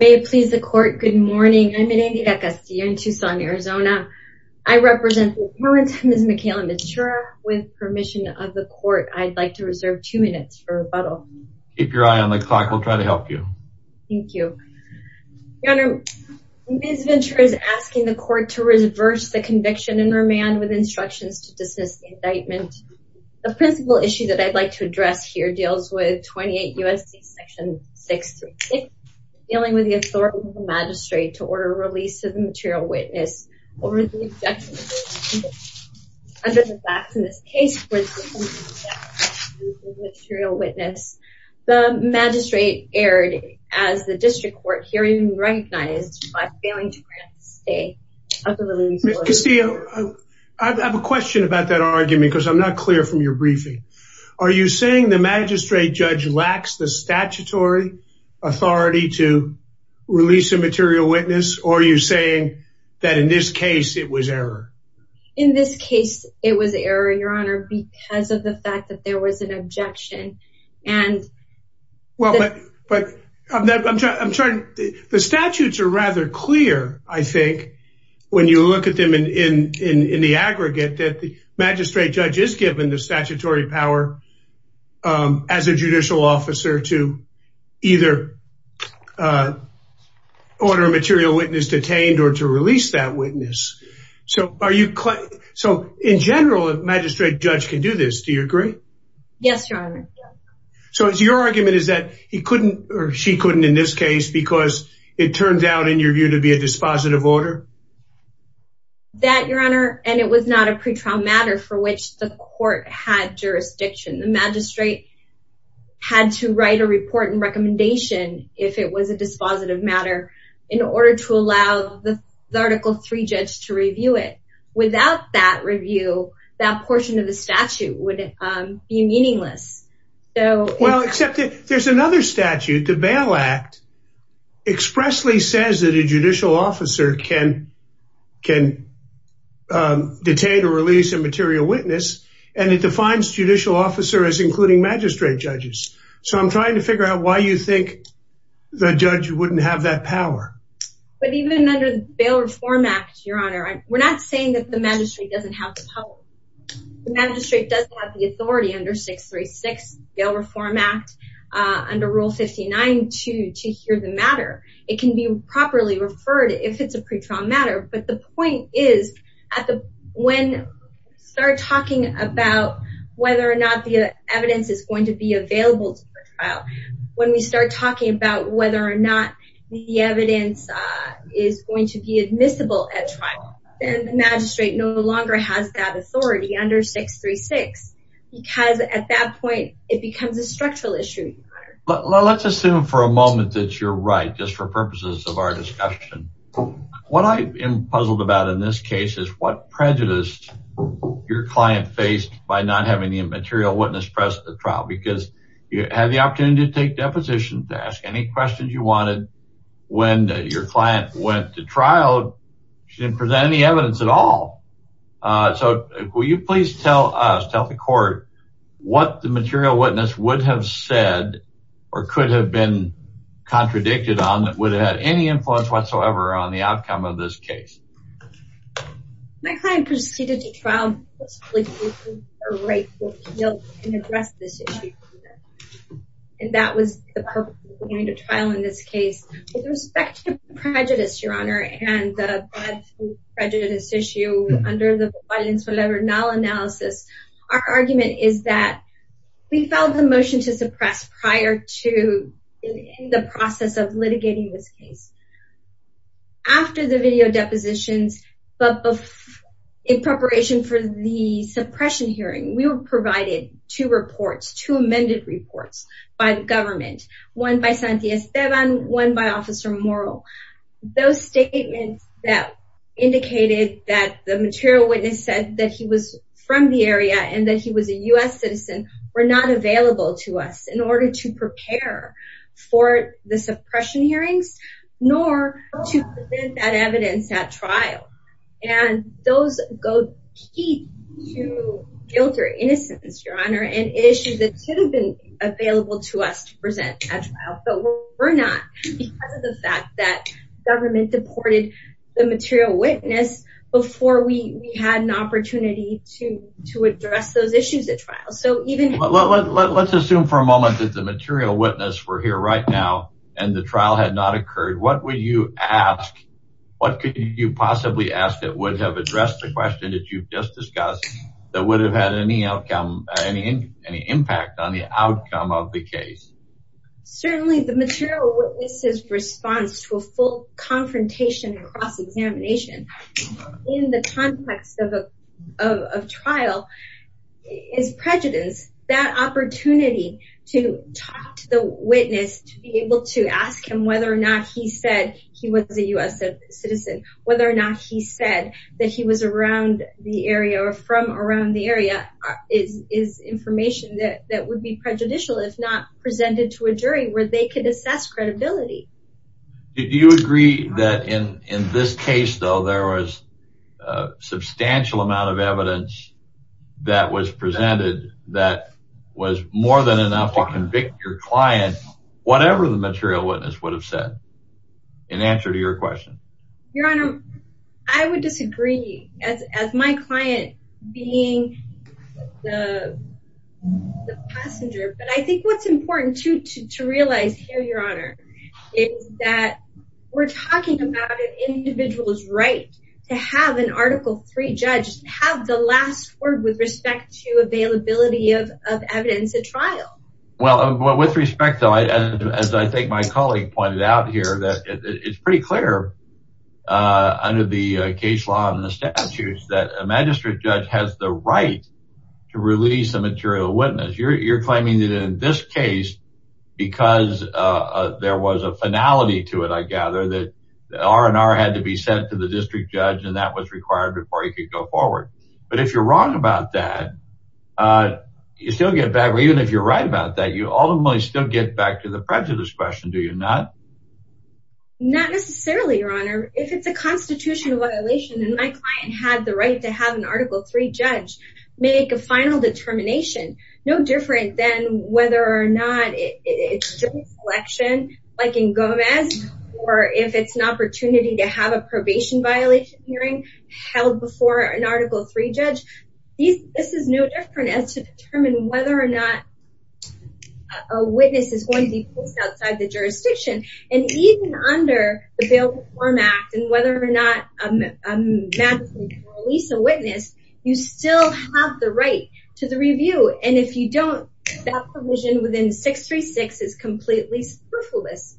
May it please the court, good morning. I'm in Indira Casilla in Tucson, Arizona. I represent the parents of Ms. Michaela Ventura. With permission of the court, I'd like to reserve two minutes for rebuttal. Keep your eye on the clock, we'll try to help you. Thank you. Your Honor, Ms. Ventura is asking the court to reverse the conviction and remand with instructions to dismiss the indictment. The principal issue that I'd like to address here deals with 28 U.S.C. section 636 dealing with the authority of the magistrate to order a release of the material witness over the objection of the defendant as a fact in this case, the magistrate erred as the district court hearing recognized by failing to grant the stay. Castillo, I have a question about that Are you saying the magistrate judge lacks the statutory authority to release a material witness? Or are you saying that in this case, it was error? In this case, it was error, Your Honor, because of the fact that there was an objection. And well, but I'm trying, the statutes are rather clear, I think, when you look at them in the aggregate that the magistrate judge is given the statutory power as a judicial officer to either order a material witness detained or to release that witness. So are you, so in general, a magistrate judge can do this. Do you agree? Yes, Your Honor. So it's your argument is that he couldn't or she couldn't in this case, because it turns out in your view to be a dispositive order? That, Your Honor, and it was not a pretrial matter for which the court had jurisdiction, the magistrate had to write a report and recommendation if it was a dispositive matter, in order to allow the article three judge to review it. Without that review, that portion of the statute would be meaningless. So well, except there's another statute, the Bail Act expressly says that a judicial officer can can detain or release a material witness. And it defines judicial officer as including magistrate judges. So I'm trying to figure out why you think the judge wouldn't have that power. But even under the Bail Reform Act, Your Honor, we're not saying that the magistrate doesn't have the power. The magistrate doesn't have the authority under 636 Bail Reform Act under Rule 59 to hear the matter. It can be properly referred if it's a pretrial matter. But the point is, when we start talking about whether or not the evidence is going to be available to the trial, when we start talking about whether or not the evidence is going to be admissible at trial, then the magistrate no longer has that authority under 636. Because at that point, it becomes a structural issue. Well, let's assume for a moment that you're right, just for purposes of our discussion. What I am puzzled about in this case is what prejudice your client faced by not having a material witness present at trial. Because you had the opportunity to take depositions, to ask any questions you wanted. When your client went to trial, she didn't present any evidence at all. So will you please tell us, tell the court, what the material witness would have said or could have been contradicted on that would have had any influence whatsoever on the outcome of this case? My client proceeded to trial, and that was the purpose of going to trial in this case. With respect to prejudice, your honor, and the prejudice issue under the violence whenever null analysis, our argument is that we filed the motion to suppress prior to the process of litigating this case. After the video depositions, but in preparation for the suppression hearing, we were provided two reports, two amended reports by the government, one by Santiago Esteban, one by Officer Moro. Those statements that indicated that the material witness said that he was from the area and that he was a U.S. citizen were not available to us in order to prepare for the suppression hearings, nor to present that evidence at trial. And those go key to guilt or innocence, your honor, and issues that should have been available to us to present at trial, but were not because of the fact that government deported the material witness before we had an opportunity to address those issues at trial. Let's assume for a moment that the material witness were here right now, and the trial had not occurred. What would you ask? What could you possibly ask that would have addressed the question that you've just discussed that would have had any outcome, any impact on the outcome of the case? Certainly, the material witness's response to a full confrontation and cross-examination in the context of a trial is prejudice. That opportunity to talk to the witness, to be able to ask him whether or not he said he was a U.S. citizen, whether or not he said that he was around the area or from around the area, is information that would be prejudicial if not presented to a jury where they could assess credibility. Do you agree that in this case, though, there was a substantial amount of evidence that was presented that was more than enough to convict your client, whatever the material witness would have said, in answer to your question? Your Honor, I would disagree as my client being the passenger, but I think what's important, too, to realize here, Your Honor, is that we're talking about an individual's right to have an Article III judge have the last word with respect to availability of evidence at trial. Well, with respect, though, as I think my colleague pointed out here, it's pretty clear under the case law and the statutes that a magistrate judge has the right to release a material witness. You're claiming that in this case, because there was a finality to it, I gather, that the R&R had to be sent to the district judge and that was required before he could go forward. But if you're wrong about that, you still get back to the prejudice question, do you not? Your Honor, if it's a constitutional violation and my client had the right to have an Article III judge make a final determination, no different than whether or not it's during selection, like in Gomez, or if it's an opportunity to have a probation violation hearing held before an Article III judge, this is no different as to determine whether or not a witness is going to be placed outside the jurisdiction. And even under the Bail Reform Act, and whether or not a magistrate can release a witness, you still have the right to the review. And if you don't, that provision within 636 is completely spoofless.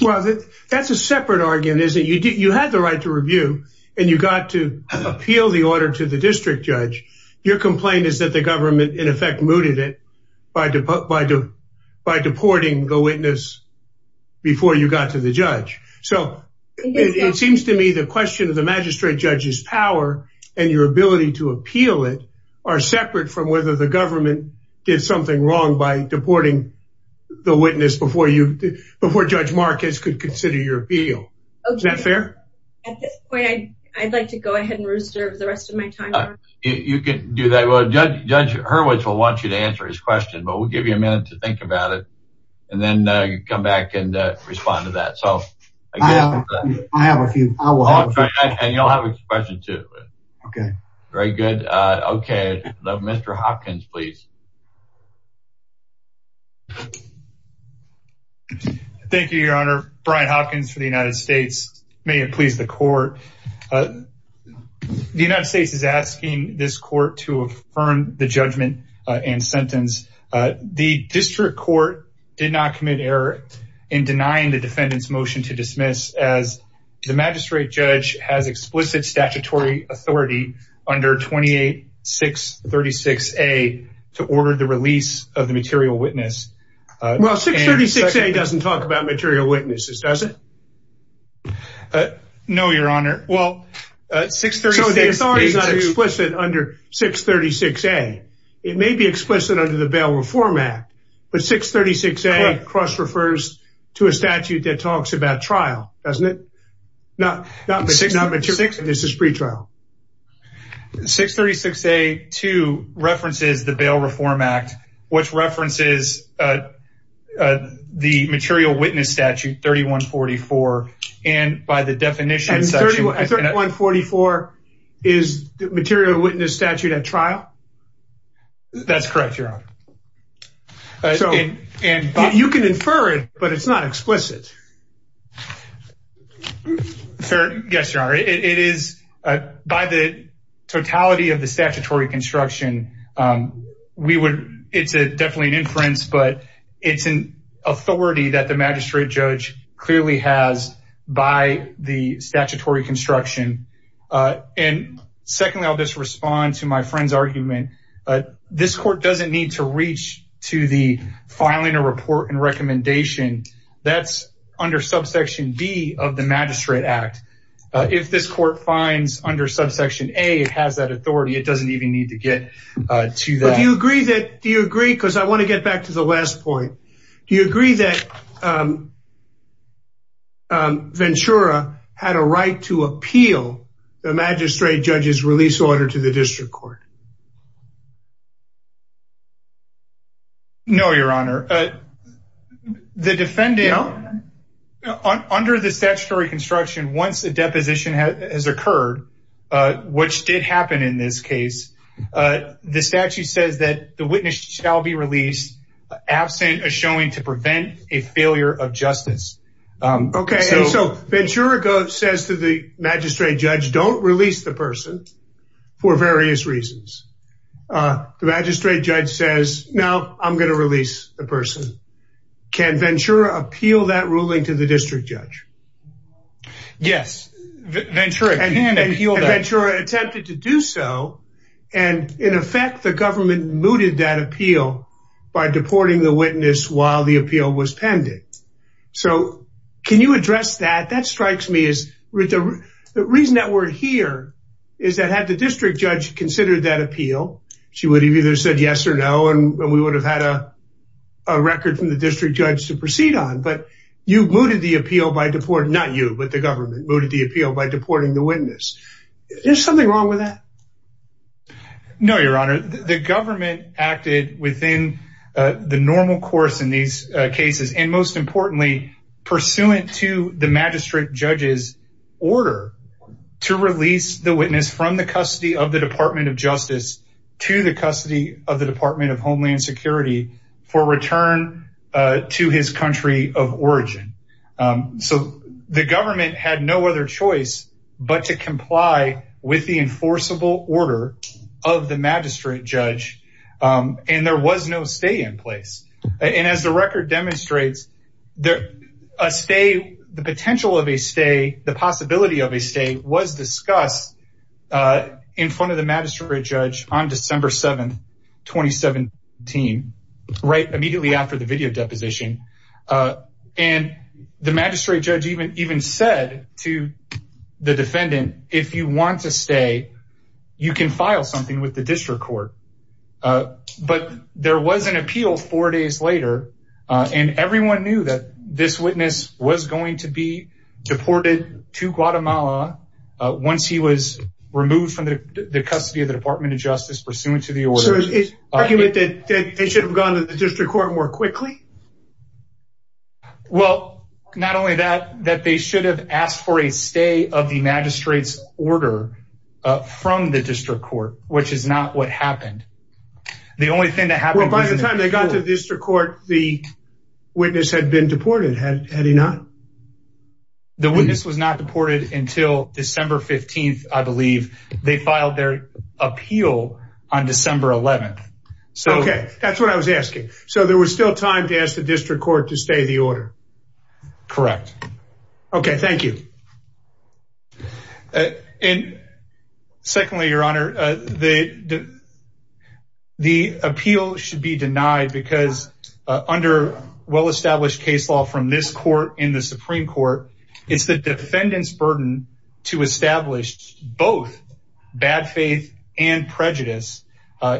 Well, that's a separate argument, isn't it? You had the right to review and you got to appeal the order to the district judge. Your complaint is that the government, in effect, mooted it by deporting the witness before you got to the judge. So it seems to me the question of the magistrate judge's power and your ability to appeal it are separate from whether the government did something wrong by deporting the witness before Judge Marquez could consider your appeal. Is that fair? At this point, I'd like to go ahead and reserve the rest of my time. You can do that. Well, Judge Hurwitz will want you to answer his question, but we'll give you a minute to think about it. And then you come back and respond to that. So I have a few. And you'll have a question too. Okay. Very good. Okay, Mr. Hopkins, please. Thank you, Your Honor. Brian Hopkins for the United States. May it please the court. The United States is asking this court to affirm the judgment and sentence. The district court did not commit error in denying the defendant's motion to dismiss as the magistrate judge has explicit statutory authority under 28-636A to order the release of the defendant. Well, 636A doesn't talk about material witnesses, does it? No, Your Honor. Well, 636A... So the authority is not explicit under 636A. It may be explicit under the Bail Reform Act. But 636A cross-refers to a statute that talks about trial, doesn't it? Not material witnesses pretrial. 636A, too, references the Bail Reform Act, which references the material witness statute 3144, and by the definition... And 3144 is the material witness statute at trial? That's correct, Your Honor. You can infer it, but it's not explicit. Yes, Your Honor. It is, by the totality of the statutory construction, we would... It's definitely an inference, but it's an authority that the magistrate judge clearly has by the statutory construction. And secondly, I'll just respond to my friend's argument. This court doesn't need to reach to the filing a report and recommendation. That's under subsection D of the Magistrate Act. If this court finds under subsection A, it has that authority. It doesn't even need to get to that. But do you agree that... Do you agree? Because I want to get back to the last point. Do you agree that Ventura had a right to appeal the magistrate judge's release order to the district court? No, Your Honor. The defendant, under the statutory construction, once the deposition has occurred, which did happen in this case, the statute says that the witness shall be released absent a showing to prevent a failure of justice. Okay, so Ventura says to the magistrate judge, don't release the person for various reasons. The magistrate judge says, no, I'm going to release the person. Can Ventura appeal that ruling to the district judge? Yes, Ventura can appeal that. Ventura attempted to do so, and in effect, the government mooted that appeal by deporting the witness while the appeal was pending. So can you address that? That strikes me as... The reason that we're here is that had the district judge considered that appeal, she would have either said yes or no, and we would have had a record from the district judge to proceed on. But you mooted the appeal by deporting... Not you, but the government mooted the appeal by deporting the witness. Is there something wrong with that? No, Your Honor. The government acted within the normal course in these cases, and most importantly, pursuant to the magistrate judge's order to release the witness from the custody of the Department of Justice to the custody of the Department of Homeland Security for return to his country of origin. So the government had no other choice but to comply with the enforceable order of the magistrate judge. And there was no stay in place. And as the record demonstrates, the potential of a stay, the possibility of a stay was discussed in front of the magistrate judge on December 7th, 2017, right immediately after the video deposition. And the magistrate judge even said to the defendant, if you want to stay, you can file something with the district court. But there was an appeal four days later, and everyone knew that this witness was going to be deported to Guatemala once he was removed from the custody of the Department of Justice, pursuant to the order. So it's argued that they should have gone to the district court more quickly? Well, not only that, that they should have asked for a stay of the magistrate's order from the district court, which is not what happened. The only thing that happened- Well, by the time they got to the district court, the witness had been deported, had he not? The witness was not deported until December 15th, I believe. They filed their appeal on December 11th. Okay, that's what I was asking. So there was still time to ask the district court to stay the order? Correct. Okay, thank you. And secondly, Your Honor, the appeal should be denied because under well-established case law from this court in the Supreme Court, it's the defendant's burden to establish both bad faith and prejudice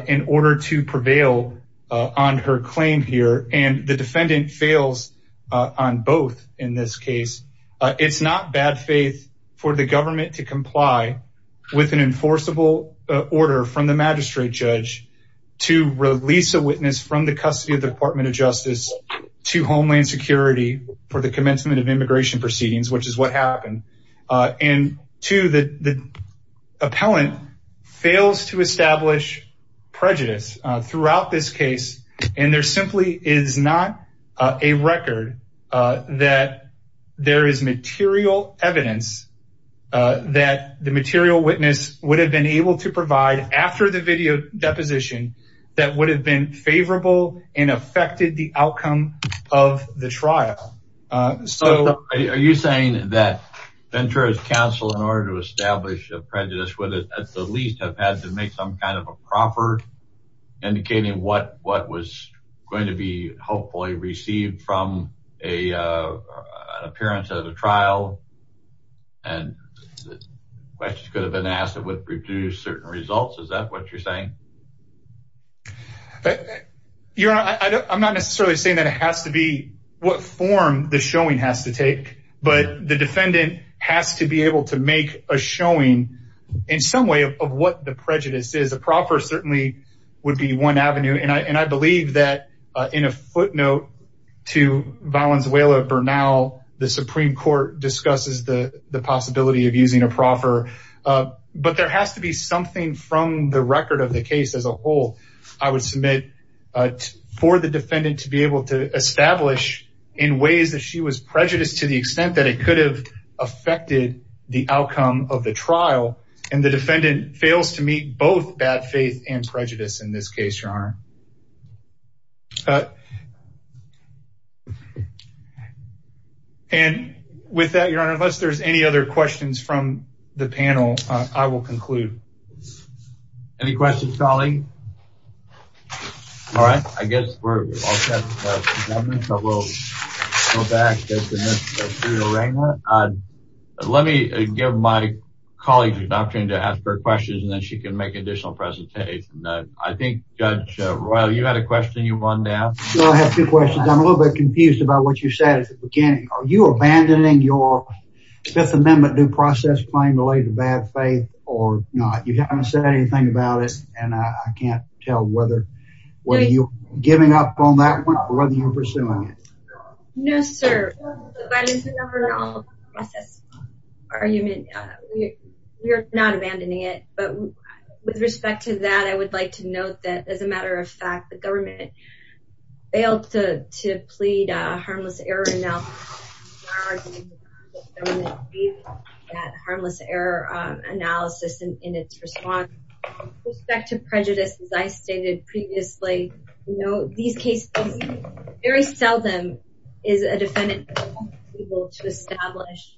in order to prevail on her claim here. And the defendant fails on both in this case. It's not bad faith for the government to comply with an enforceable order from the magistrate judge to release a witness from the custody of the Department of Justice to Homeland Security for the commencement of immigration proceedings, which is what happened. And two, the appellant fails to establish prejudice throughout this case. And there simply is not a record that there is material evidence that the material witness would have been able to provide after the video deposition that would have been favorable and affected the outcome of the trial. Are you saying that Ventura's counsel, in order to establish a prejudice, would at the least have had to make some kind of a proffered indicating what was going to be hopefully received from an appearance at a trial? And questions could have been asked that would reduce certain results. Is that what you're saying? Your Honor, I'm not necessarily saying that it has to be what form the showing has to take, but the defendant has to be able to make a showing in some way of what the prejudice is. A proffer certainly would be one avenue. And I believe that in a footnote to Valenzuela Bernal, the Supreme Court discusses the possibility of using a proffer. But there has to be something from the record of the case as a whole, I would submit for the defendant to be able to establish in ways that she was prejudiced to the extent that it could have affected the outcome of the trial. And the defendant fails to meet both bad faith and prejudice in this case, Your Honor. And with that, Your Honor, unless there's any other questions from the panel, I will conclude. Any questions, Colleen? All right, I guess we're all set, Mr. Governor, so we'll go back to Ms. Serena. Let me give my colleague an opportunity to ask her questions, and then she can make additional presentations. I think, Judge Royal, you had a question you wanted to ask? Sure, I have two questions. I'm a little bit confused about what you said at the beginning. Are you abandoning your Fifth Amendment due process claim related to bad faith or not? You haven't said anything about it. And I can't tell whether you're giving up on that one or whether you're pursuing it. No, sir. We're not abandoning it. But with respect to that, I would like to note that, as a matter of fact, the government failed to plead a harmless error analysis in its response. With respect to prejudice, as I stated previously, these cases, very seldom is a defendant able to establish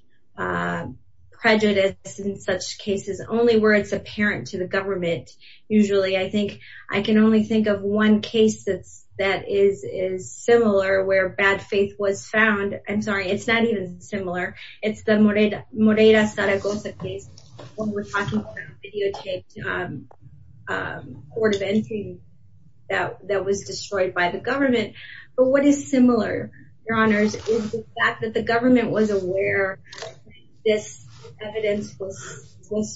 prejudice in such cases, only where it's apparent to the government. Usually, I think I can only think of one case that is similar where bad faith was found. I'm sorry, it's not even similar. It's the Moreira-Zaragoza case when we're talking about videotaped court of entry that was destroyed by the government. But what is similar, Your Honors, is the fact that the government was aware this evidence was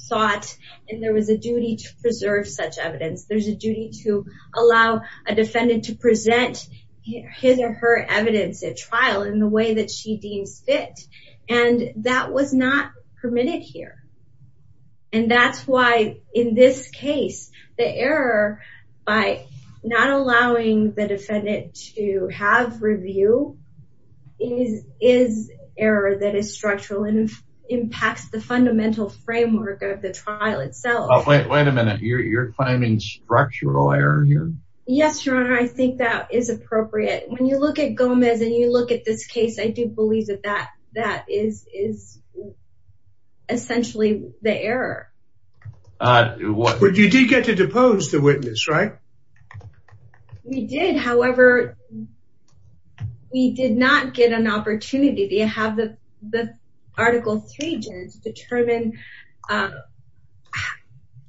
sought and there was a duty to preserve such evidence. There's a duty to allow a defendant to present his or her evidence at trial in the way that she deems fit. And that was not permitted here. And that's why, in this case, the error by not allowing the defendant to have review is error that is structural and impacts the fundamental framework of the trial itself. Oh, wait a minute. You're claiming structural error here? Yes, Your Honor. I think that is appropriate. When you look at Gomez and you look at this case, I do believe that that is essentially the error. You did get to depose the witness, right? We did. However, we did not get an opportunity to have the Article 3 judge determine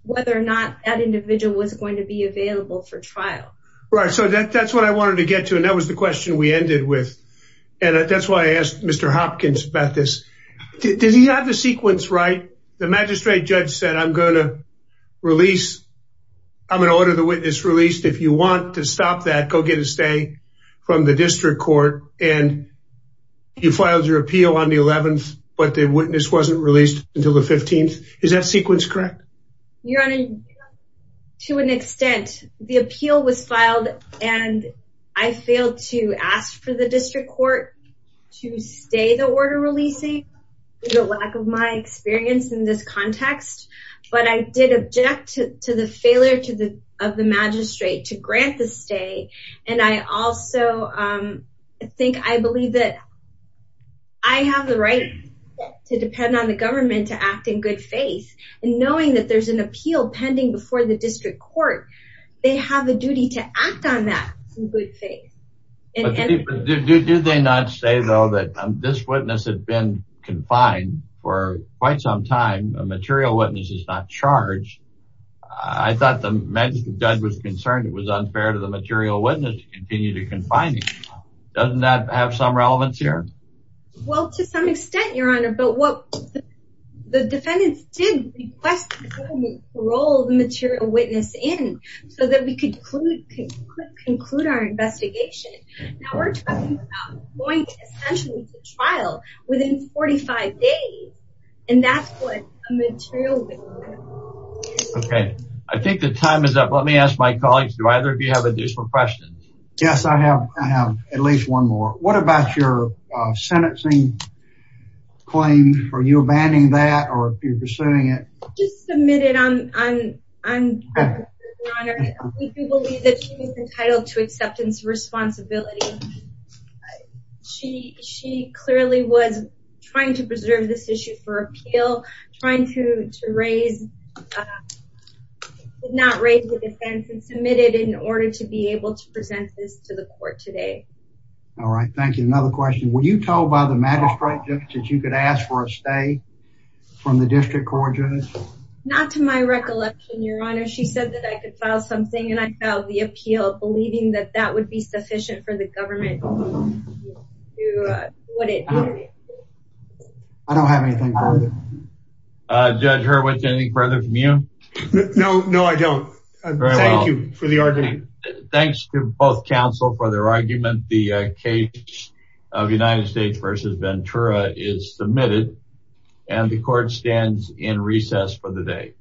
whether or not that individual was going to be available for trial. Right. So that's what I wanted to get to. That was the question we ended with. And that's why I asked Mr. Hopkins about this. Did he have the sequence right? The magistrate judge said, I'm going to release, I'm going to order the witness released. If you want to stop that, go get a stay from the district court. And you filed your appeal on the 11th, but the witness wasn't released until the 15th. Is that sequence correct? Your Honor, to an extent. The appeal was filed and I failed to ask for the district court to stay the order releasing due to lack of my experience in this context. But I did object to the failure of the magistrate to grant the stay. And I also think I believe that I have the right to depend on the government to act in good faith. And knowing that there's an appeal pending before the district court, they have a duty to act on that in good faith. Did they not say though that this witness had been confined for quite some time? A material witness is not charged. I thought the magistrate judge was concerned. It was unfair to the material witness to continue to confine him. Doesn't that have some relevance here? Well, to some extent, Your Honor. But what the defendants did request was to roll the material witness in so that we could conclude our investigation. Now we're talking about going essentially to trial within 45 days. And that's what a material witness is. Okay. I think the time is up. Let me ask my colleagues. Do either of you have additional questions? Yes, I have. I have at least one more. What about your sentencing claim? Are you abandoning that or are you pursuing it? Just submitted on, Your Honor. We believe that she was entitled to acceptance of responsibility. She clearly was trying to preserve this issue for appeal, trying to raise, did not raise the defense, and submitted in order to be able to present this to the court today. All right. Thank you. Another question. Were you told by the magistrate judge that you could ask for a stay from the district court judge? Not to my recollection, Your Honor. She said that I could file something and I filed the appeal, believing that that would be sufficient for the government. I don't have anything further. Judge Hurwitz, anything further from you? No, no, I don't. Thank you for the argument. Thanks to both counsel for their argument. The case of United States versus Ventura is submitted. And the court stands in recess for the day.